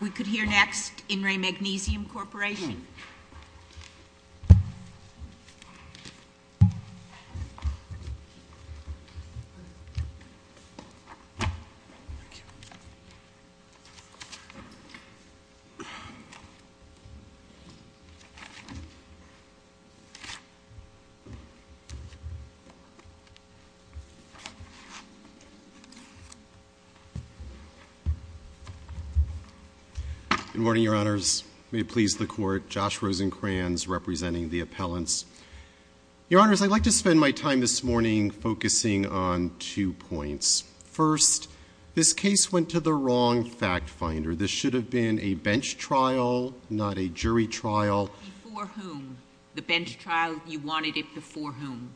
We could hear next in Re Magnesium Corporation. Good morning, Your Honors. May it please the Court. Josh Rosenkranz, representing the appellants. Your Honors, I'd like to spend my time this morning focusing on two points. First, this case went to the wrong fact finder. This should have been a bench trial, not a jury trial. Before whom? The bench trial, you wanted it before whom?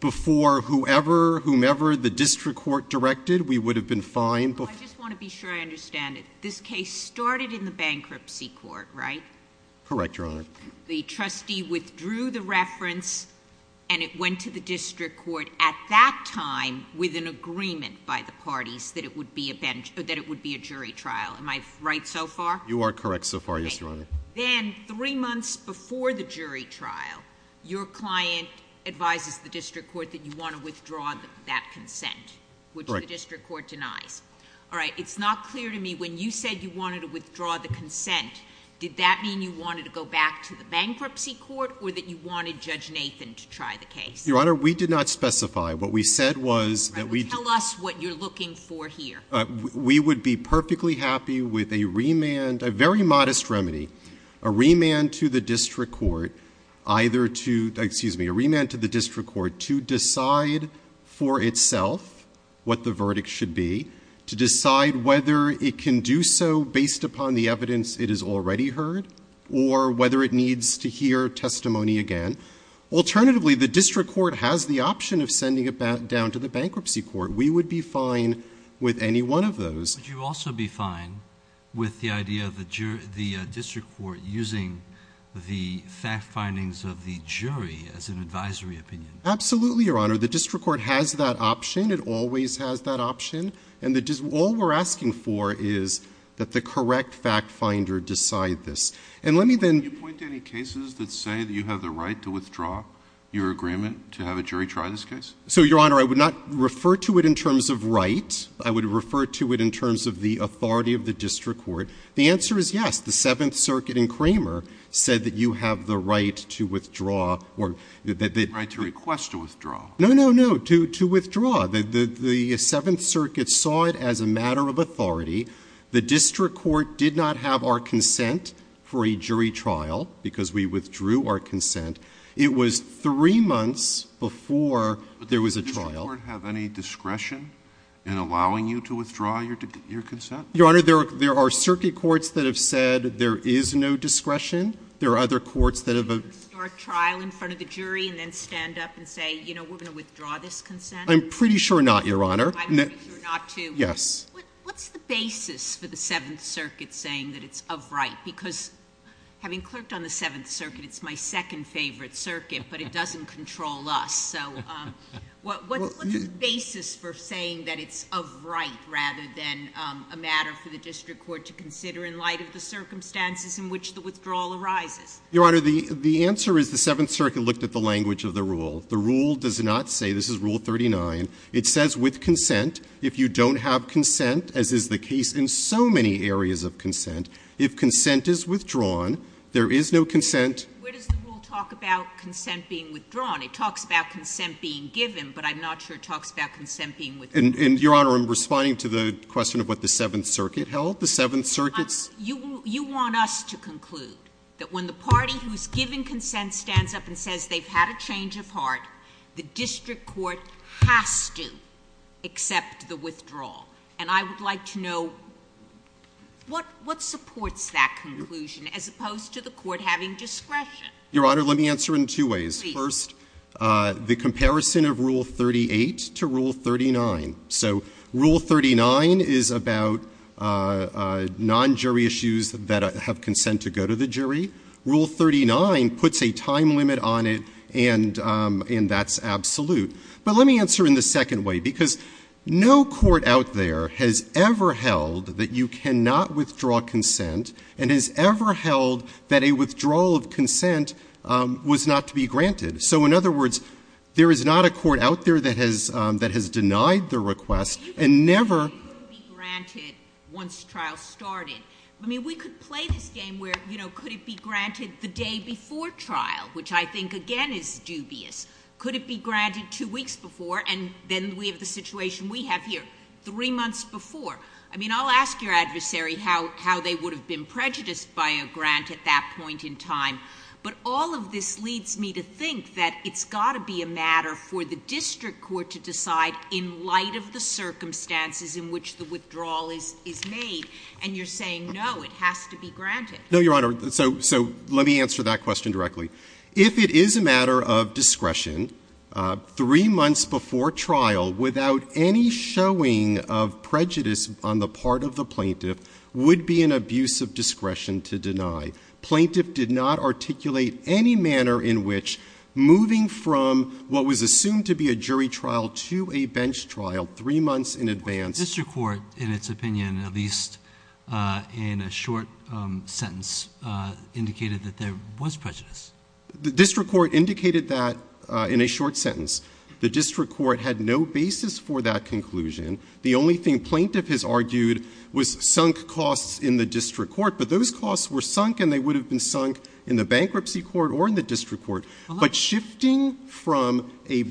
Before whoever, whomever the district court directed, we would have been fine. Well, I just want to be sure I understand it. This case started in the bankruptcy court, right? Correct, Your Honor. The trustee withdrew the reference and it went to the district court at that time with an agreement by the parties that it would be a jury trial. Am I right so far? You are correct so far, yes, Your Honor. Then, three months before the jury trial, your client advises the district court that you want to withdraw that consent, which the district court denies. Correct. All right. It's not clear to me when you said you wanted to withdraw the consent, did that mean you wanted to go back to the bankruptcy court or that you wanted Judge Nathan to try the case? Your Honor, we did not specify. What we said was that we did. Tell us what you're looking for here. We would be perfectly happy with a remand, a very modest remedy, a remand to the district court either to, excuse me, a remand to the district court to decide for itself what the verdict should be, to decide whether it can do so based upon the evidence it has already heard or whether it needs to hear testimony again. Alternatively, the district court has the option of sending it back down to the bankruptcy court. We would be fine with any one of those. Would you also be fine with the idea of the district court using the fact findings of the jury as an advisory opinion? Absolutely, Your Honor. The district court has that option. It always has that option. And all we're asking for is that the correct fact finder decide this. And let me then – Can you point to any cases that say that you have the right to withdraw your agreement to have a jury try this case? So, Your Honor, I would not refer to it in terms of right. I would refer to it in terms of the authority of the district court. The answer is yes. The Seventh Circuit in Kramer said that you have the right to withdraw. The right to request a withdrawal. No, no, no. To withdraw. The Seventh Circuit saw it as a matter of authority. The district court did not have our consent for a jury trial because we withdrew our consent. It was three months before there was a trial. Did the district court have any discretion in allowing you to withdraw your consent? Your Honor, there are circuit courts that have said there is no discretion. There are other courts that have – You can start a trial in front of the jury and then stand up and say, you know, we're going to withdraw this consent? I'm pretty sure not, Your Honor. I'm pretty sure not, too. Yes. What's the basis for the Seventh Circuit saying that it's of right? Because having clerked on the Seventh Circuit, it's my second favorite circuit, but it doesn't control us. What's the basis for saying that it's of right rather than a matter for the district court to consider in light of the circumstances in which the withdrawal arises? Your Honor, the answer is the Seventh Circuit looked at the language of the rule. The rule does not say – this is Rule 39. It says with consent, if you don't have consent, as is the case in so many areas of consent, if consent is withdrawn, there is no consent. Where does the rule talk about consent being withdrawn? It talks about consent being given, but I'm not sure it talks about consent being withdrawn. And, Your Honor, I'm responding to the question of what the Seventh Circuit held. The Seventh Circuit's – You want us to conclude that when the party who is giving consent stands up and says they've had a change of heart, the district court has to accept the withdrawal. And I would like to know what supports that conclusion as opposed to the court having discretion. Your Honor, let me answer in two ways. Please. First, the comparison of Rule 38 to Rule 39. So Rule 39 is about non-jury issues that have consent to go to the jury. Rule 39 puts a time limit on it, and that's absolute. But let me answer in the second way, because no court out there has ever held that you cannot withdraw consent and has ever held that a withdrawal of consent was not to be granted. So, in other words, there is not a court out there that has denied the request and never— Could it be granted once trial started? I mean, we could play this game where, you know, could it be granted the day before trial, which I think, again, is dubious. Could it be granted two weeks before, and then we have the situation we have here, three months before? I mean, I'll ask your adversary how they would have been prejudiced by a grant at that point in time. But all of this leads me to think that it's got to be a matter for the district court to decide in light of the circumstances in which the withdrawal is made. And you're saying, no, it has to be granted. No, Your Honor. So let me answer that question directly. If it is a matter of discretion, three months before trial, without any showing of prejudice on the part of the plaintiff, would be an abuse of discretion to deny. Plaintiff did not articulate any manner in which moving from what was assumed to be a jury trial to a bench trial three months in advance— The district court indicated that in a short sentence. The district court had no basis for that conclusion. The only thing plaintiff has argued was sunk costs in the district court. But those costs were sunk, and they would have been sunk in the bankruptcy court or in the district court. But shifting from a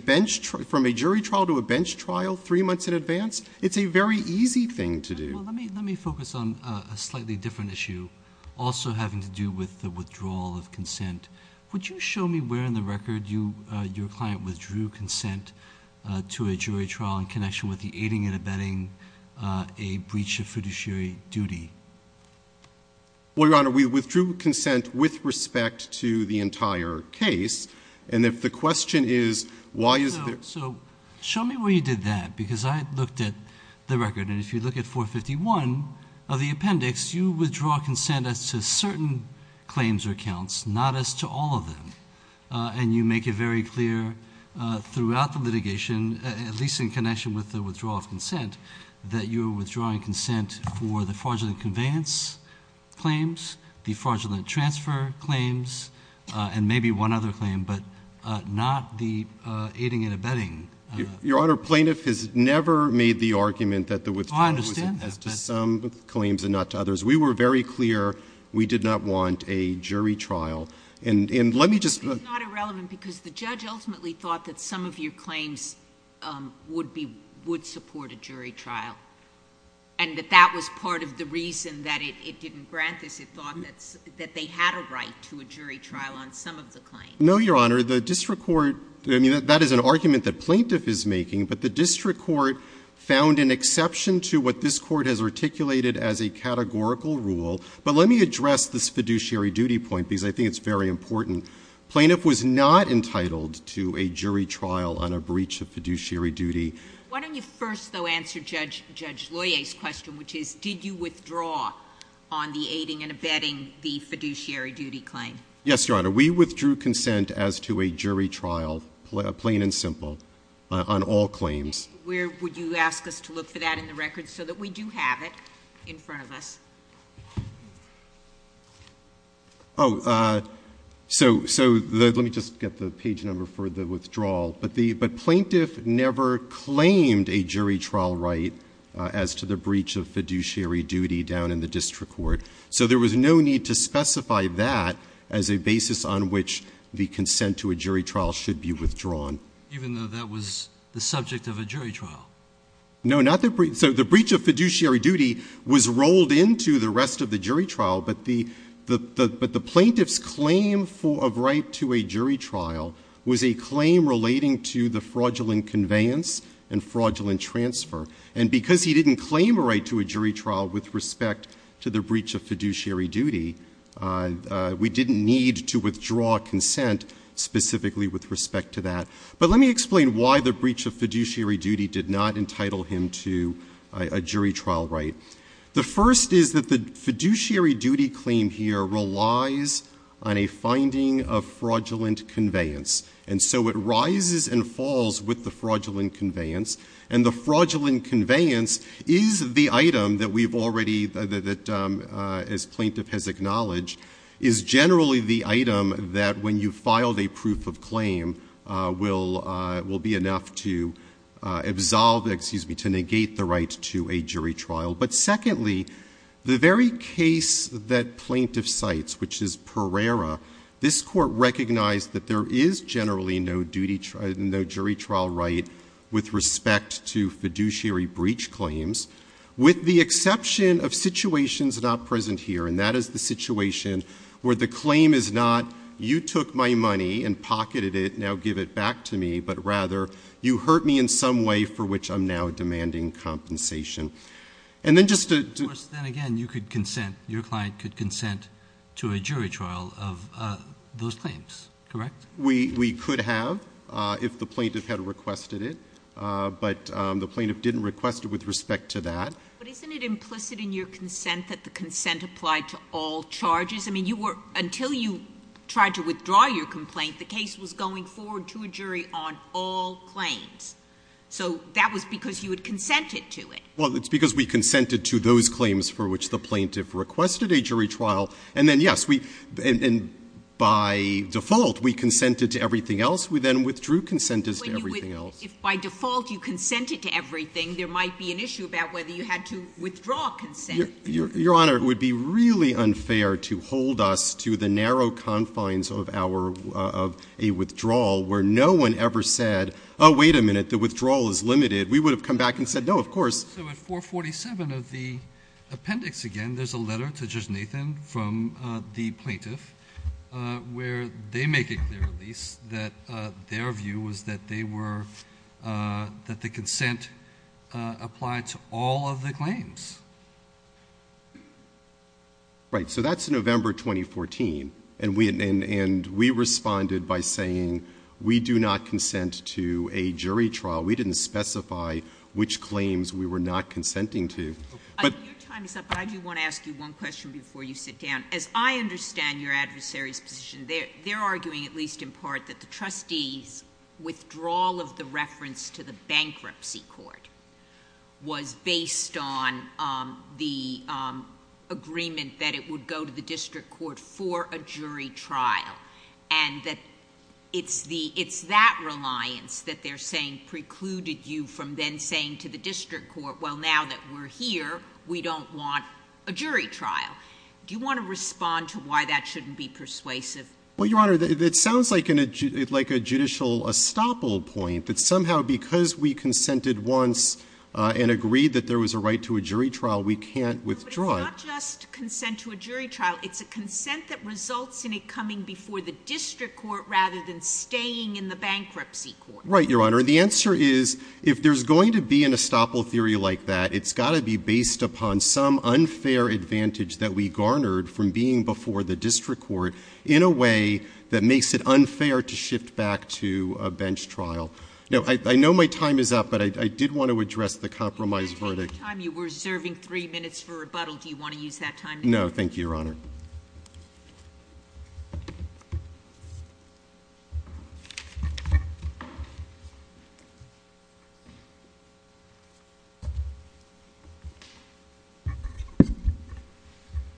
jury trial to a bench trial three months in advance, it's a very easy thing to do. Well, let me focus on a slightly different issue, also having to do with the withdrawal of consent. Would you show me where in the record your client withdrew consent to a jury trial in connection with the aiding and abetting a breach of fiduciary duty? Well, Your Honor, we withdrew consent with respect to the entire case. And if the question is, why is there— So show me where you did that, because I looked at the record. And if you look at 451 of the appendix, you withdraw consent as to certain claims or accounts, not as to all of them. And you make it very clear throughout the litigation, at least in connection with the withdrawal of consent, that you are withdrawing consent for the fraudulent conveyance claims, the fraudulent transfer claims, and maybe one other claim, but not the aiding and abetting. Your Honor, plaintiff has never made the argument that the withdrawal was as to some claims and not to others. We were very clear we did not want a jury trial. And let me just— It's not irrelevant because the judge ultimately thought that some of your claims would support a jury trial and that that was part of the reason that it didn't grant this. It thought that they had a right to a jury trial on some of the claims. No, Your Honor. The district court—I mean, that is an argument that plaintiff is making, but the district court found an exception to what this court has articulated as a categorical rule. But let me address this fiduciary duty point, because I think it's very important. Plaintiff was not entitled to a jury trial on a breach of fiduciary duty. Why don't you first, though, answer Judge Loyer's question, which is, did you withdraw on the aiding and abetting the fiduciary duty claim? Yes, Your Honor. We withdrew consent as to a jury trial, plain and simple, on all claims. Where would you ask us to look for that in the records so that we do have it in front of us? Oh, so let me just get the page number for the withdrawal. But plaintiff never claimed a jury trial right as to the breach of fiduciary duty down in the district court. So there was no need to specify that as a basis on which the consent to a jury trial should be withdrawn. Even though that was the subject of a jury trial? No, not the—so the breach of fiduciary duty was rolled into the rest of the jury trial, but the plaintiff's claim of right to a jury trial was a claim relating to the fraudulent conveyance and fraudulent transfer. And because he didn't claim a right to a jury trial with respect to the breach of fiduciary duty, we didn't need to withdraw consent specifically with respect to that. But let me explain why the breach of fiduciary duty did not entitle him to a jury trial right. The first is that the fiduciary duty claim here relies on a finding of fraudulent conveyance. And so it rises and falls with the fraudulent conveyance. And the fraudulent conveyance is the item that we've already—that, as plaintiff has acknowledged, is generally the item that, when you filed a proof of claim, will be enough to absolve—excuse me, to negate the right to a jury trial. But secondly, the very case that plaintiff cites, which is Pereira, this Court recognized that there is generally no jury trial right with respect to fiduciary breach claims, with the exception of situations not present here, and that is the situation where the claim is not, you took my money and pocketed it, now give it back to me, but rather you hurt me in some way for which I'm now demanding compensation. And then just to— Of course, then again, you could consent—your client could consent to a jury trial of those claims, correct? We could have if the plaintiff had requested it. But the plaintiff didn't request it with respect to that. But isn't it implicit in your consent that the consent apply to all charges? I mean, you were—until you tried to withdraw your complaint, the case was going forward to a jury on all claims. So that was because you had consented to it. Well, it's because we consented to those claims for which the plaintiff requested a jury trial. And then, yes, we—and by default, we consented to everything else. We then withdrew consent as to everything else. But you would—if by default you consented to everything, there might be an issue about whether you had to withdraw consent. Your Honor, it would be really unfair to hold us to the narrow confines of our—of a withdrawal where no one ever said, oh, wait a minute, the withdrawal is limited. We would have come back and said, no, of course. So at 447 of the appendix, again, there's a letter to Judge Nathan from the plaintiff where they make it clear, at least, that their view was that they were—that the consent applied to all of the claims. Right. So that's November 2014. And we responded by saying, we do not consent to a jury trial. We didn't specify which claims we were not consenting to. Your time is up, but I do want to ask you one question before you sit down. As I understand your adversary's position, they're arguing, at least in part, that the trustee's withdrawal of the reference to the bankruptcy court was based on the agreement that it would go to the district court for a jury trial. And that it's the—it's that reliance that they're saying precluded you from then saying to the district court, well, now that we're here, we don't want a jury trial. Do you want to respond to why that shouldn't be persuasive? Well, Your Honor, it sounds like a judicial estoppel point, that somehow because we consented once and agreed that there was a right to a jury trial, we can't withdraw it. No, but it's not just consent to a jury trial. It's a consent that results in it coming before the district court rather than staying in the bankruptcy court. Right, Your Honor. And the answer is, if there's going to be an estoppel theory like that, it's got to be based upon some unfair advantage that we garnered from being before the district court in a way that makes it unfair to shift back to a bench trial. Now, I know my time is up, but I did want to address the compromise verdict. At the time you were serving three minutes for rebuttal, do you want to use that time? No, thank you, Your Honor.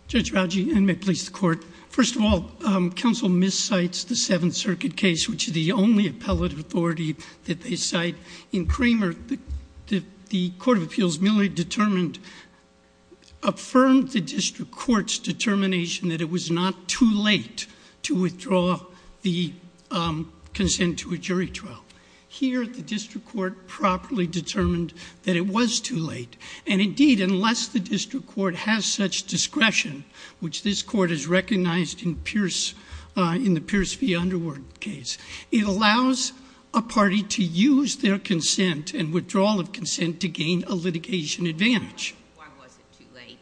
Judge Rauji, and may it please the court. First of all, counsel miscites the Seventh Circuit case, which is the only appellate authority that they cite. In Kramer, the court of appeals merely determined, affirmed the district court's determination that it was not too late to withdraw the consent to a jury trial. Here, the district court properly determined that it was too late. And indeed, unless the district court has such discretion, which this court has recognized in the Pierce v. Underwood case, it allows a party to use their consent and withdrawal of consent to gain a litigation advantage. Why was it too late?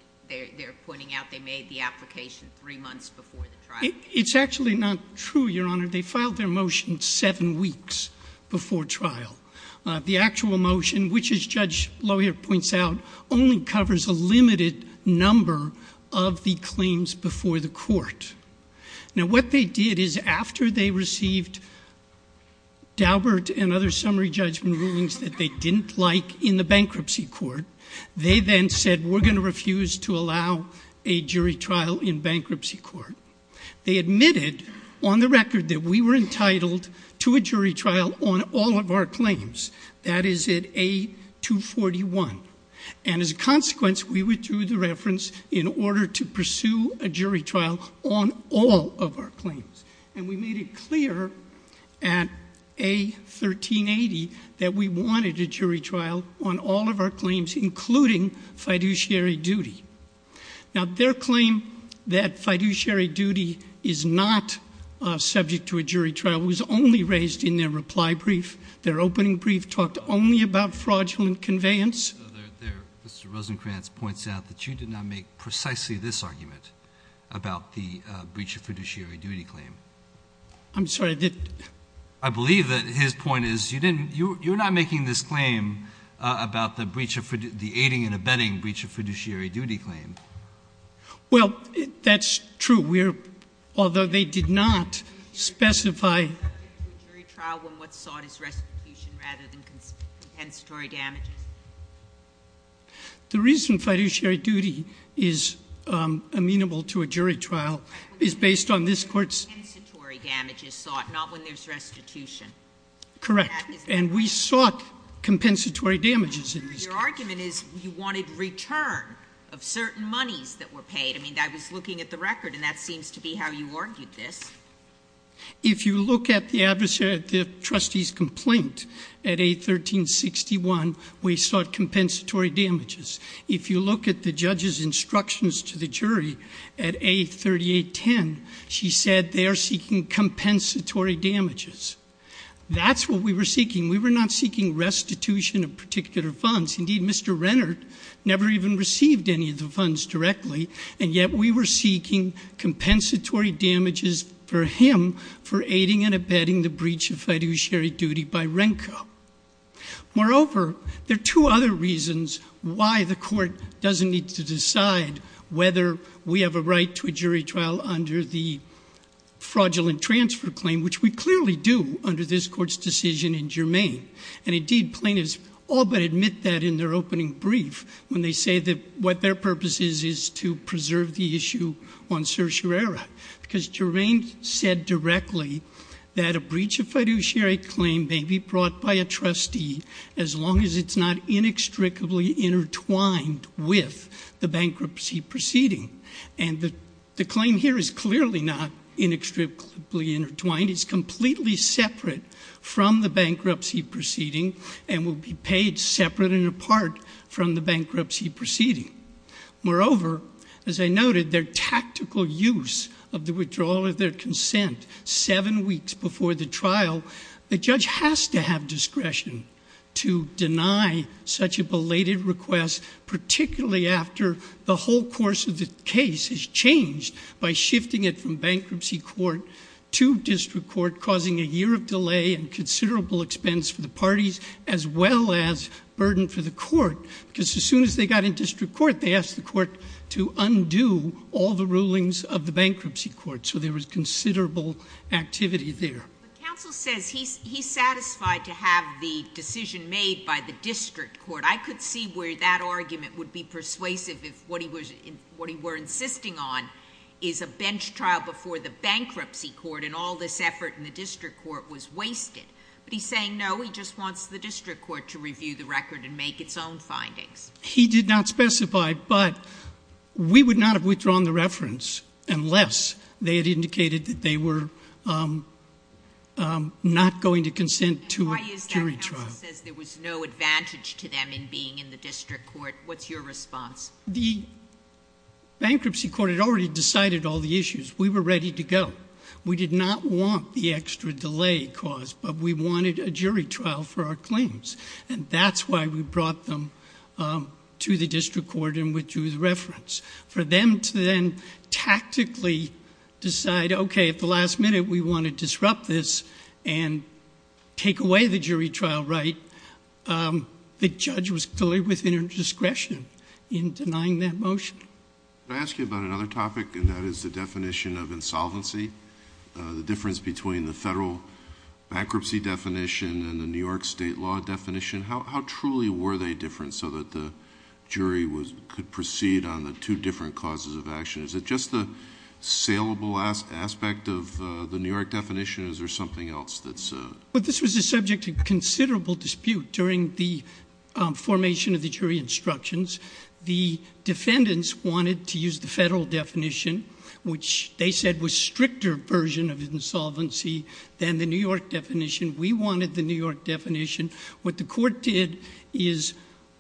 They're pointing out they made the application three months before the trial. It's actually not true, Your Honor. They filed their motion seven weeks before trial. The actual motion, which, as Judge Lohier points out, only covers a limited number of the claims before the court. Now, what they did is after they received Daubert and other summary judgment rulings that they didn't like in the bankruptcy court, they then said, we're going to refuse to allow a jury trial in bankruptcy court. They admitted on the record that we were entitled to a jury trial on all of our claims. That is at A241. And as a consequence, we withdrew the reference in order to pursue a jury trial on all of our claims. And we made it clear at A1380 that we wanted a jury trial on all of our claims, including fiduciary duty. Now, their claim that fiduciary duty is not subject to a jury trial was only raised in their reply brief. Their opening brief talked only about fraudulent conveyance. Mr. Rosenkranz points out that you did not make precisely this argument about the breach of fiduciary duty claim. I'm sorry. I believe that his point is you're not making this claim about the aiding and abetting breach of fiduciary duty claim. Well, that's true. Although they did not specify. The reason fiduciary duty is amenable to a jury trial is based on this court's. Not when there's restitution. Correct. And we sought compensatory damages in this case. Your argument is you wanted return of certain monies that were paid. I mean, I was looking at the record, and that seems to be how you argued this. If you look at the trustee's complaint at A1361, we sought compensatory damages. If you look at the judge's instructions to the jury at A3810, she said they are seeking compensatory damages. That's what we were seeking. We were not seeking restitution of particular funds. Indeed, Mr. Rennert never even received any of the funds directly. And yet we were seeking compensatory damages for him for aiding and abetting the breach of fiduciary duty by Renko. Moreover, there are two other reasons why the court doesn't need to decide whether we have a right to a jury trial under the fraudulent transfer claim, which we clearly do under this court's decision in Germain. And indeed, plaintiffs all but admit that in their opening brief when they say that what their purpose is is to preserve the issue on certiorari. Because Germain said directly that a breach of fiduciary claim may be brought by a trustee as long as it's not inextricably intertwined with the bankruptcy proceeding. And the claim here is clearly not inextricably intertwined. It's completely separate from the bankruptcy proceeding and will be paid separate and apart from the bankruptcy proceeding. Moreover, as I noted, their tactical use of the withdrawal of their consent seven weeks before the trial, the judge has to have discretion to deny such a belated request, particularly after the whole course of the case has changed by shifting it from bankruptcy court to district court, causing a year of delay and considerable expense for the parties as well as burden for the court. Because as soon as they got in district court, they asked the court to undo all the rulings of the bankruptcy court. So there was considerable activity there. But counsel says he's satisfied to have the decision made by the district court. I could see where that argument would be persuasive if what he were insisting on is a bench trial before the bankruptcy court and all this effort in the district court was wasted. But he's saying no, he just wants the district court to review the record and make its own findings. He did not specify, but we would not have withdrawn the reference unless they had indicated that they were not going to consent to a jury trial. Why is that? Counsel says there was no advantage to them in being in the district court. What's your response? The bankruptcy court had already decided all the issues. We were ready to go. We did not want the extra delay caused, but we wanted a jury trial for our claims. And that's why we brought them to the district court and withdrew the reference. For them to then tactically decide, okay, at the last minute we want to disrupt this and take away the jury trial right, the judge was clearly within her discretion in denying that motion. Can I ask you about another topic, and that is the definition of insolvency, the difference between the federal bankruptcy definition and the New York state law definition? How truly were they different so that the jury could proceed on the two different causes of action? Is it just the saleable aspect of the New York definition, or is there something else that's... This was a subject of considerable dispute during the formation of the jury instructions. The defendants wanted to use the federal definition, which they said was a stricter version of insolvency than the New York definition. We wanted the New York definition. What the court did is,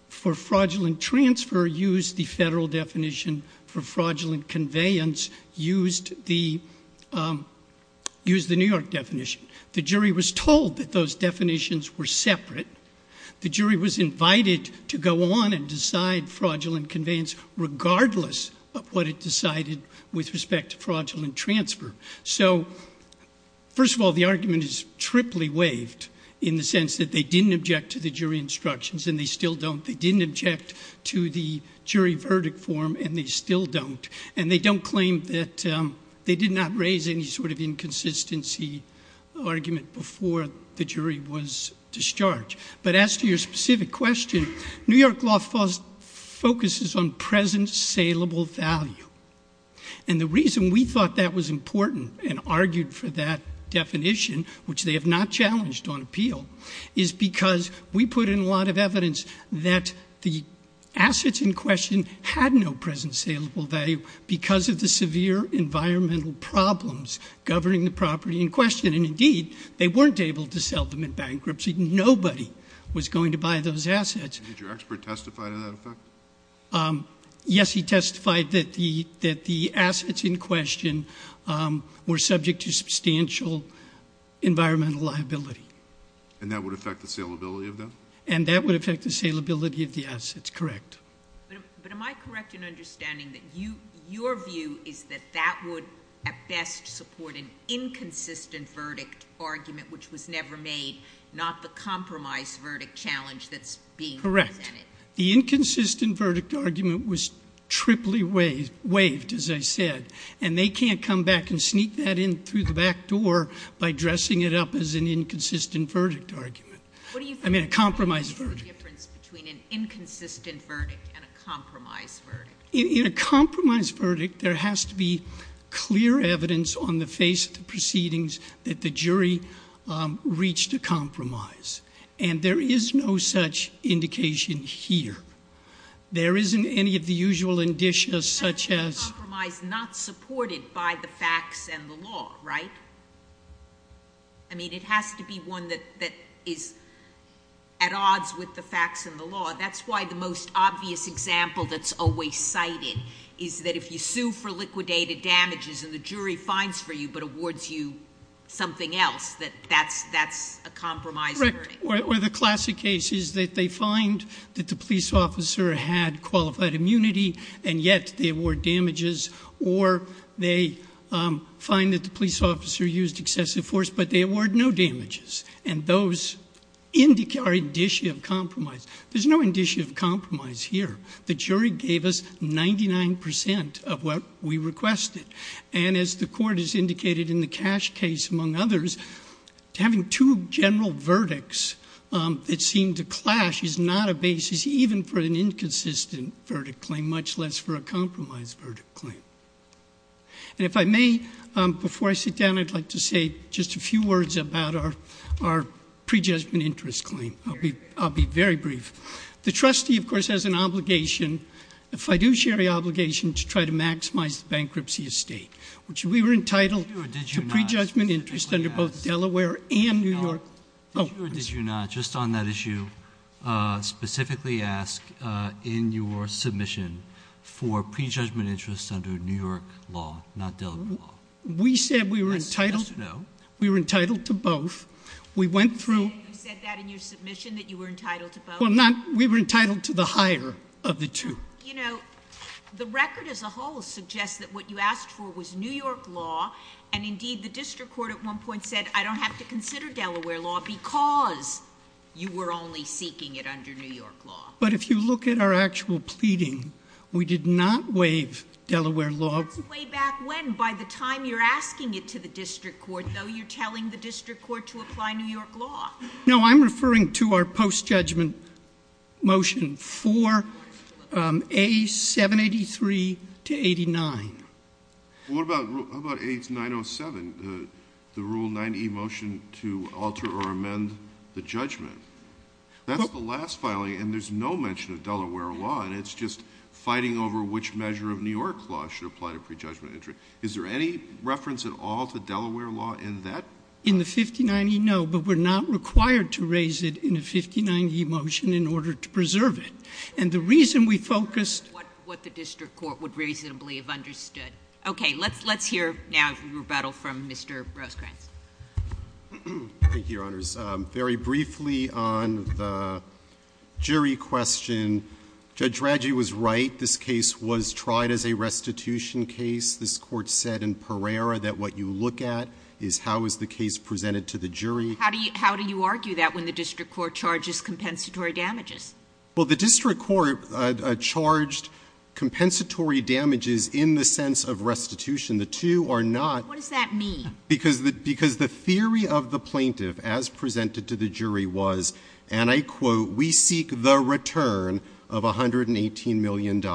for fraudulent transfer, used the federal definition. For fraudulent conveyance, used the New York definition. The jury was told that those definitions were separate. The jury was invited to go on and decide fraudulent conveyance regardless of what it decided with respect to fraudulent transfer. So, first of all, the argument is triply waived in the sense that they didn't object to the jury instructions, and they still don't. They didn't object to the jury verdict form, and they still don't. And they don't claim that... they did not raise any sort of inconsistency argument before the jury was discharged. But as to your specific question, New York law focuses on present saleable value. And the reason we thought that was important and argued for that definition, which they have not challenged on appeal, is because we put in a lot of evidence that the assets in question had no present saleable value because of the severe environmental problems governing the property in question. And, indeed, they weren't able to sell them in bankruptcy. Nobody was going to buy those assets. Did your expert testify to that effect? Yes, he testified that the assets in question were subject to substantial environmental liability. And that would affect the saleability of them? And that would affect the saleability of the assets, correct. But am I correct in understanding that your view is that that would at best support an inconsistent verdict argument which was never made, not the compromise verdict challenge that's being presented? Correct. The inconsistent verdict argument was triply waived, as I said, and they can't come back and sneak that in through the back door by dressing it up as an inconsistent verdict argument. I mean, a compromise verdict. What do you think is the difference between an inconsistent verdict and a compromise verdict? In a compromise verdict, there has to be clear evidence on the face of the proceedings that the jury reached a compromise. And there is no such indication here. There isn't any of the usual indicia such as— A compromise not supported by the facts and the law, right? I mean, it has to be one that is at odds with the facts and the law. That's why the most obvious example that's always cited is that if you sue for liquidated damages and the jury finds for you but awards you something else, that that's a compromise verdict. Or the classic case is that they find that the police officer had qualified immunity and yet they award damages, or they find that the police officer used excessive force but they award no damages. And those are indicia of compromise. There's no indicia of compromise here. The jury gave us 99% of what we requested. And as the court has indicated in the Cash case among others, having two general verdicts that seem to clash is not a basis even for an inconsistent verdict claim, much less for a compromise verdict claim. And if I may, before I sit down, I'd like to say just a few words about our prejudgment interest claim. I'll be very brief. The trustee, of course, has an obligation, a fiduciary obligation to try to maximize the bankruptcy estate, which we were entitled to prejudgment interest under both Delaware and New York. Did you or did you not just on that issue specifically ask in your submission for prejudgment interest under New York law, not Delaware law? We said we were entitled to both. We went through- You said that in your submission that you were entitled to both? Well, we were entitled to the higher of the two. You know, the record as a whole suggests that what you asked for was New York law. And indeed, the district court at one point said, I don't have to consider Delaware law because you were only seeking it under New York law. But if you look at our actual pleading, we did not waive Delaware law. That's way back when. By the time you're asking it to the district court, though, you're telling the district court to apply New York law. No, I'm referring to our post-judgment motion for A783 to 89. What about A907, the Rule 90E motion to alter or amend the judgment? That's the last filing, and there's no mention of Delaware law, and it's just fighting over which measure of New York law should apply to prejudgment interest. Is there any reference at all to Delaware law in that? In the 59E, no, but we're not required to raise it in a 59E motion in order to preserve it. And the reason we focused What the district court would reasonably have understood. Okay, let's hear now a rebuttal from Mr. Rosekranz. Thank you, Your Honors. Very briefly on the jury question, Judge Radji was right. This case was tried as a restitution case. This court said in Pereira that what you look at is how is the case presented to the jury. How do you argue that when the district court charges compensatory damages? Well, the district court charged compensatory damages in the sense of restitution. The two are not. What does that mean? Because the theory of the plaintiff, as presented to the jury, was, and I quote, we seek the return of $118 million.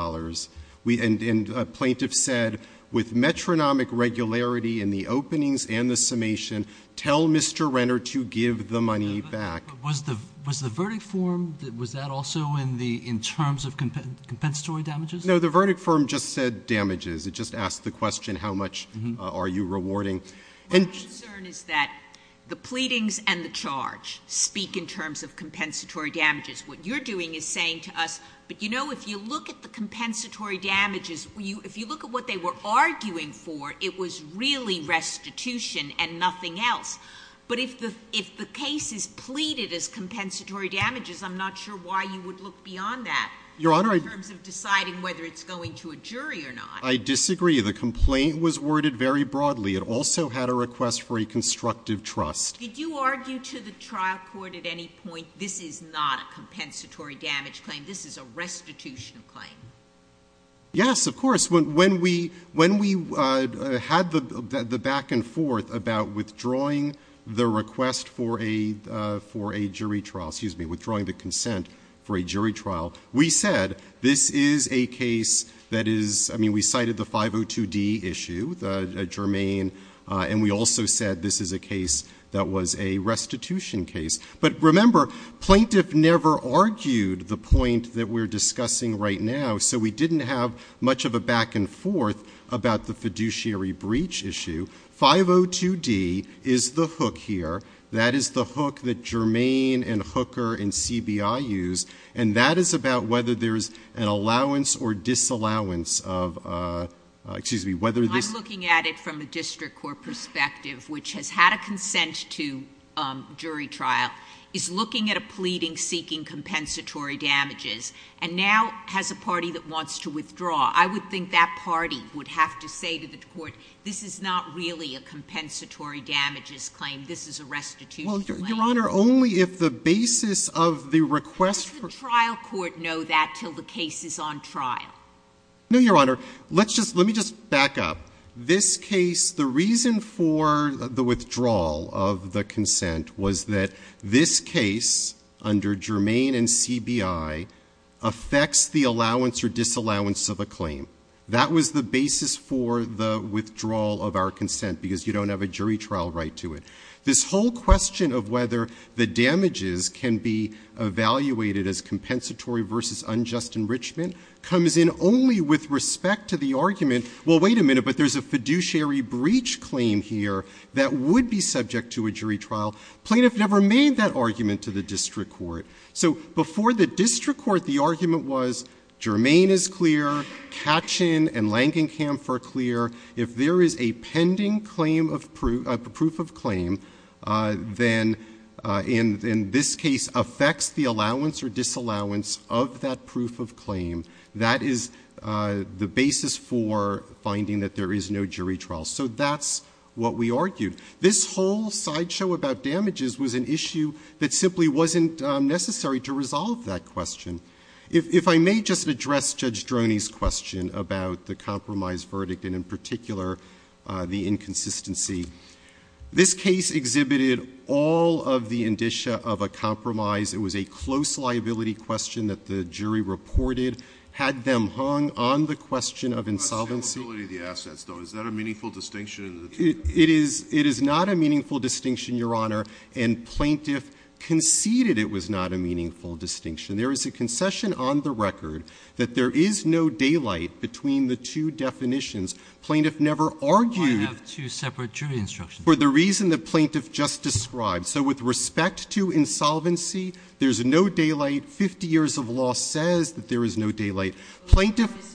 And a plaintiff said, with metronomic regularity in the openings and the summation, tell Mr. Renner to give the money back. Was the verdict form, was that also in terms of compensatory damages? No, the verdict form just said damages. It just asked the question, how much are you rewarding? My concern is that the pleadings and the charge speak in terms of compensatory damages. What you're doing is saying to us, but you know, if you look at the compensatory damages, if you look at what they were arguing for, it was really restitution and nothing else. But if the case is pleaded as compensatory damages, I'm not sure why you would look beyond that in terms of deciding whether it's going to a jury or not. I disagree. The complaint was worded very broadly. It also had a request for a constructive trust. Did you argue to the trial court at any point, this is not a compensatory damage claim? This is a restitutional claim. Yes, of course. When we had the back and forth about withdrawing the request for a jury trial, excuse me, withdrawing the consent for a jury trial, we said, this is a case that is, I mean, we cited the 502D issue. Jermaine, and we also said this is a case that was a restitution case. But remember, plaintiff never argued the point that we're discussing right now, so we didn't have much of a back and forth about the fiduciary breach issue. 502D is the hook here. That is the hook that Jermaine and Hooker and CBI used, and that is about whether there's an allowance or disallowance of, excuse me, whether this And so the court, looking at it from a District Court perspective, which has had a consent to jury trial, is looking at a pleading seeking compensatory damages, and now has a party that wants to withdraw. I would think that party would have to say to the Court, this is not really a compensatory damages claim. This is a restitution claim. Well, Your Honor, only if the basis of the request for... Does the trial court know that until the case is on trial? No, Your Honor. Let's just, let me just back up. This case, the reason for the withdrawal of the consent was that this case, under Germain and CBI, affects the allowance or disallowance of a claim. That was the basis for the withdrawal of our consent, because you don't have a jury trial right to it. This whole question of whether the damages can be evaluated as compensatory versus unjust enrichment comes in only with respect to the argument, well, wait a minute, but there's a fiduciary breach claim here that would be subject to a jury trial. Plaintiff never made that argument to the District Court. So before the District Court, the argument was Germain is clear, Katchen and Langenkamp are clear. If there is a pending claim of proof of claim, then in this case affects the allowance or disallowance of that proof of claim. That is the basis for finding that there is no jury trial. So that's what we argued. This whole sideshow about damages was an issue that simply wasn't necessary to resolve that question. If I may just address Judge Droney's question about the compromise verdict and in particular the inconsistency. This case exhibited all of the indicia of a compromise. It was a close liability question that the jury reported. Had them hung on the question of insolvency. Is that a meaningful distinction? It is not a meaningful distinction, Your Honor. And plaintiff conceded it was not a meaningful distinction. There is a concession on the record that there is no daylight between the two definitions. Plaintiff never argued. I have two separate jury instructions. For the reason that plaintiff just described. So with respect to insolvency, there's no daylight. 50 years of law says that there is no daylight. Plaintiff.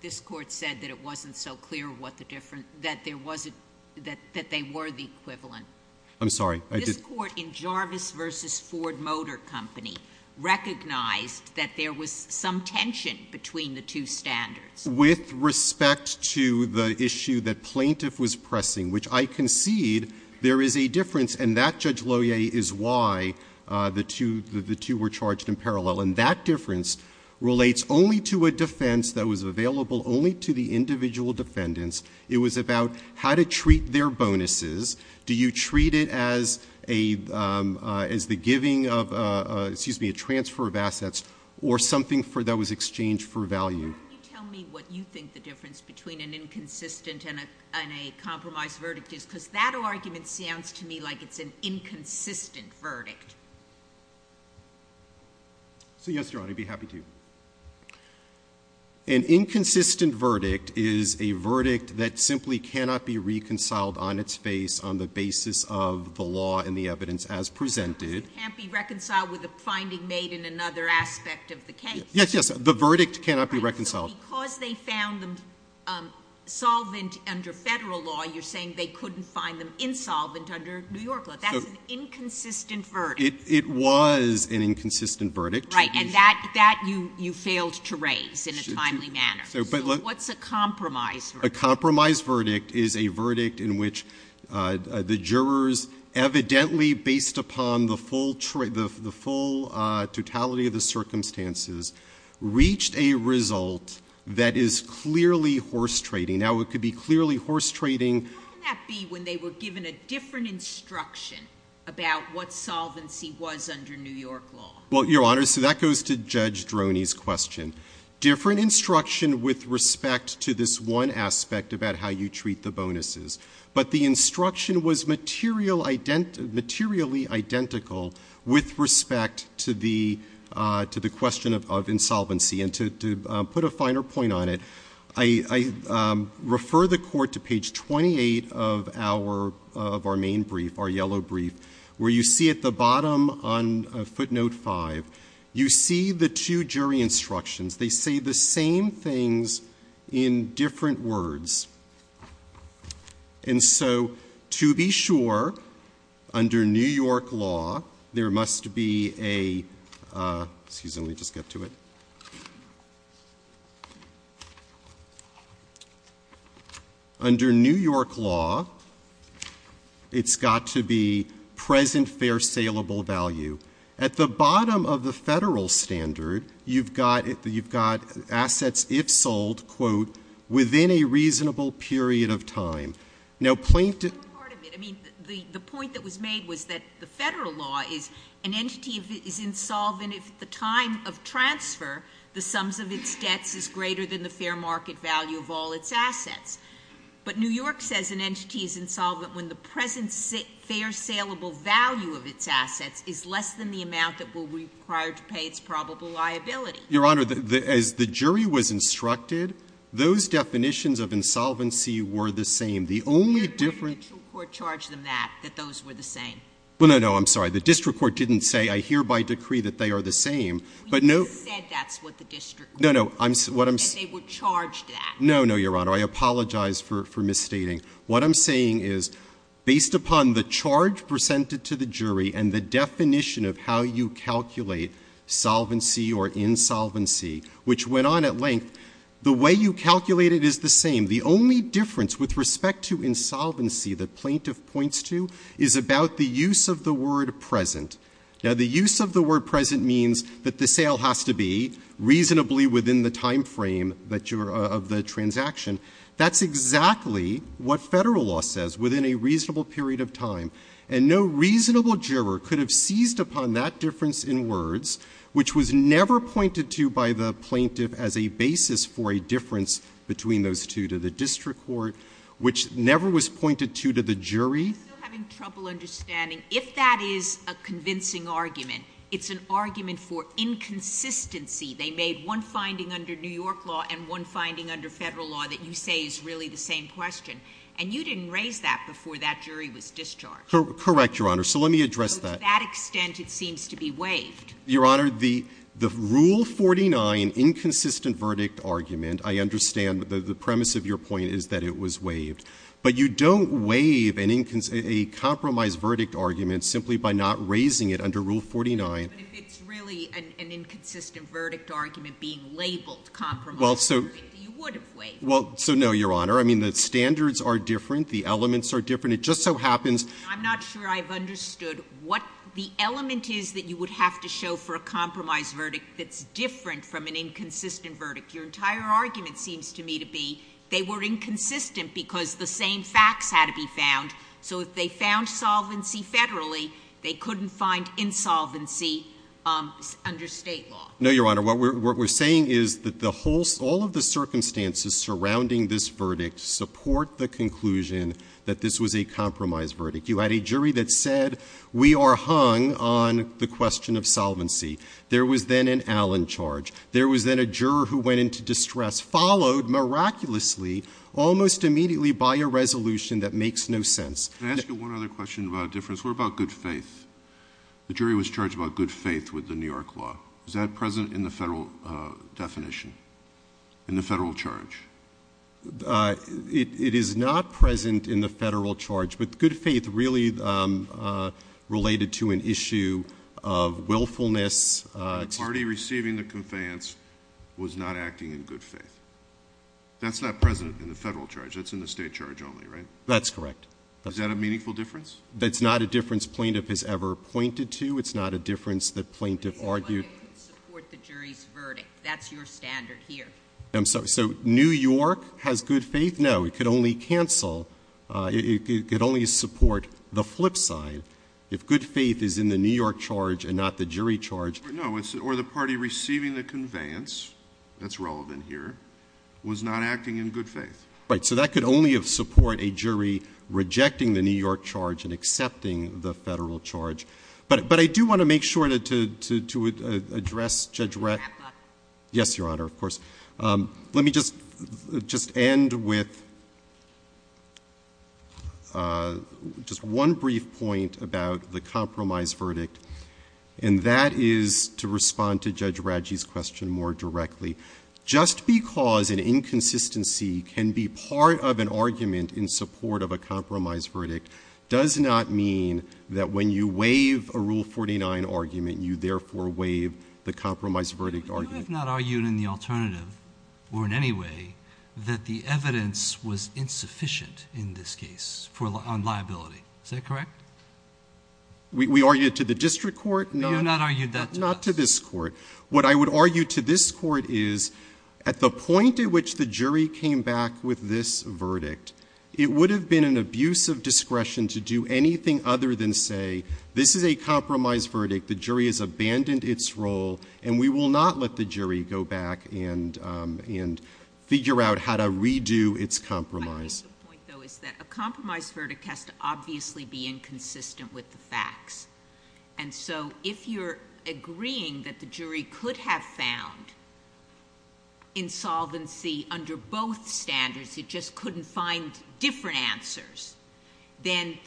This Court said that it wasn't so clear what the difference. That there wasn't. That they were the equivalent. I'm sorry. This Court in Jarvis v. Ford Motor Company recognized that there was some tension between the two standards. With respect to the issue that plaintiff was pressing, which I concede there is a difference. And that difference relates only to a defense that was available only to the individual defendants. It was about how to treat their bonuses. Do you treat it as the giving of, excuse me, a transfer of assets or something that was exchanged for value? Can you tell me what you think the difference between an inconsistent and a compromised verdict is? Because that argument sounds to me like it's an inconsistent verdict. So yes, Your Honor, I'd be happy to. An inconsistent verdict is a verdict that simply cannot be reconciled on its face on the basis of the law and the evidence as presented. It can't be reconciled with a finding made in another aspect of the case. Yes, yes. The verdict cannot be reconciled. Because they found them solvent under federal law, you're saying they couldn't find them insolvent under New York law. That's an inconsistent verdict. It was an inconsistent verdict. Right. And that you failed to raise in a timely manner. So what's a compromised verdict? A compromised verdict is a verdict in which the jurors evidently, based upon the full totality of the circumstances, reached a result that is clearly horse trading. Now, it could be clearly horse trading. How can that be when they were given a different instruction about what solvency was under New York law? Well, Your Honor, so that goes to Judge Droney's question. Different instruction with respect to this one aspect about how you treat the bonuses. But the instruction was materially identical with respect to the question of insolvency. And to put a finer point on it, I refer the court to page 28 of our main brief, our yellow brief, where you see at the bottom on footnote 5, you see the two jury instructions. They say the same things in different words. And so to be sure, under New York law, there must be a — excuse me, let me just get to it. Under New York law, it's got to be present fair saleable value. At the bottom of the federal standard, you've got — you've got assets if sold, quote, within a reasonable period of time. Now, plaintiff — I mean, the point that was made was that the federal law is an entity is insolvent if the time of transfer, the sums of its debts, is greater than the fair market value of all its assets. But New York says an entity is insolvent when the present fair saleable value of its assets is less than the amount that will be required to pay its probable liability. Your Honor, as the jury was instructed, those definitions of insolvency were the same. The only difference — The district court charged them that, that those were the same. Well, no, no, I'm sorry. The district court didn't say, I hereby decree that they are the same. But no — You said that's what the district court said. No, no, I'm — what I'm — That they were charged that. No, no, Your Honor. I apologize for misstating. What I'm saying is, based upon the charge presented to the jury and the definition of how you calculate solvency or insolvency, which went on at length, the way you calculate it is the same. The only difference with respect to insolvency that plaintiff points to is about the use of the word present. Now, the use of the word present means that the sale has to be reasonably within the timeframe of the transaction. That's exactly what Federal law says, within a reasonable period of time. And no reasonable juror could have seized upon that difference in words, which was never pointed to by the plaintiff as a basis for a difference between those two to the district court, which never was pointed to to the jury. I'm still having trouble understanding. If that is a convincing argument, it's an argument for inconsistency. They made one finding under New York law and one finding under Federal law that you say is really the same question. And you didn't raise that before that jury was discharged. Correct, Your Honor. So let me address that. To that extent, it seems to be waived. Your Honor, the Rule 49 inconsistent verdict argument, I understand the premise of your point is that it was waived. But you don't waive a compromise verdict argument simply by not raising it under Rule 49. But if it's really an inconsistent verdict argument being labeled compromise verdict, you would have waived it. Well, so no, Your Honor. I mean, the standards are different. The elements are different. It just so happens. I'm not sure I've understood what the element is that you would have to show for a compromise verdict that's different from an inconsistent verdict. Your entire argument seems to me to be they were inconsistent because the same facts had to be found. So if they found solvency federally, they couldn't find insolvency under State law. No, Your Honor. What we're saying is that all of the circumstances surrounding this verdict support the conclusion that this was a compromise verdict. You had a jury that said we are hung on the question of solvency. There was then an Allen charge. There was then a juror who went into distress, followed miraculously almost immediately by a resolution that makes no sense. Can I ask you one other question about a difference? What about good faith? The jury was charged about good faith with the New York law. Is that present in the federal definition, in the federal charge? It is not present in the federal charge. But good faith really related to an issue of willfulness. The party receiving the conveyance was not acting in good faith. That's not present in the federal charge. That's in the state charge only, right? That's correct. Is that a meaningful difference? That's not a difference plaintiff has ever pointed to. It's not a difference that plaintiff argued. But it could support the jury's verdict. That's your standard here. I'm sorry. So New York has good faith? No. It could only cancel. It could only support the flip side. If good faith is in the New York charge and not the jury charge. No. Or the party receiving the conveyance, that's relevant here, was not acting in good faith. Right. So that could only support a jury rejecting the New York charge and accepting the federal charge. But I do want to make sure to address Judge Rett. Yes, Your Honor, of course. Let me just end with just one brief point about the compromise verdict, and that is to respond to Judge Radji's question more directly. Just because an inconsistency can be part of an argument in support of a compromise verdict does not mean that when you waive a Rule 49 argument, you therefore waive the compromise verdict argument. You have not argued in the alternative or in any way that the evidence was insufficient in this case on liability. Is that correct? We argued to the district court. You have not argued that to us. Not to this court. What I would argue to this court is at the point at which the jury came back with this verdict, it would have been an abuse of discretion to do anything other than say, this is a compromise verdict, the jury has abandoned its role, and we will not let the jury go back and figure out how to redo its compromise. My point, though, is that a compromise verdict has to obviously be inconsistent with the facts. And so if you're agreeing that the jury could have found insolvency under both standards, it just couldn't find different answers, then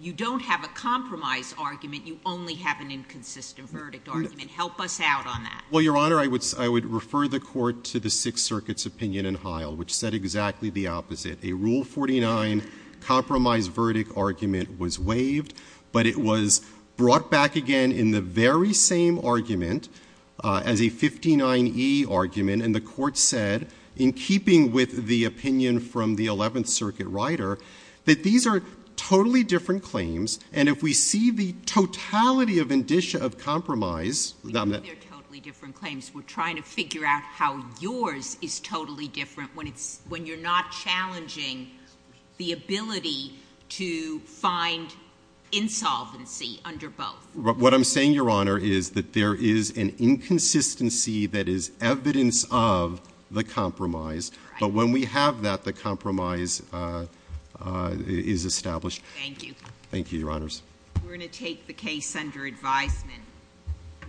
you don't have a compromise argument. You only have an inconsistent verdict argument. Help us out on that. Well, Your Honor, I would refer the court to the Sixth Circuit's opinion in Heil, which said exactly the opposite. A Rule 49 compromise verdict argument was waived, but it was brought back again in the very same argument as a 59e argument. And the court said, in keeping with the opinion from the Eleventh Circuit writer, that these are totally different claims. And if we see the totality of indicia of compromise. They're totally different claims. We're trying to figure out how yours is totally different when you're not challenging the ability to find insolvency under both. What I'm saying, Your Honor, is that there is an inconsistency that is evidence of the compromise. But when we have that, the compromise is established. Thank you. Thank you, Your Honors. We're going to take the case under advisement.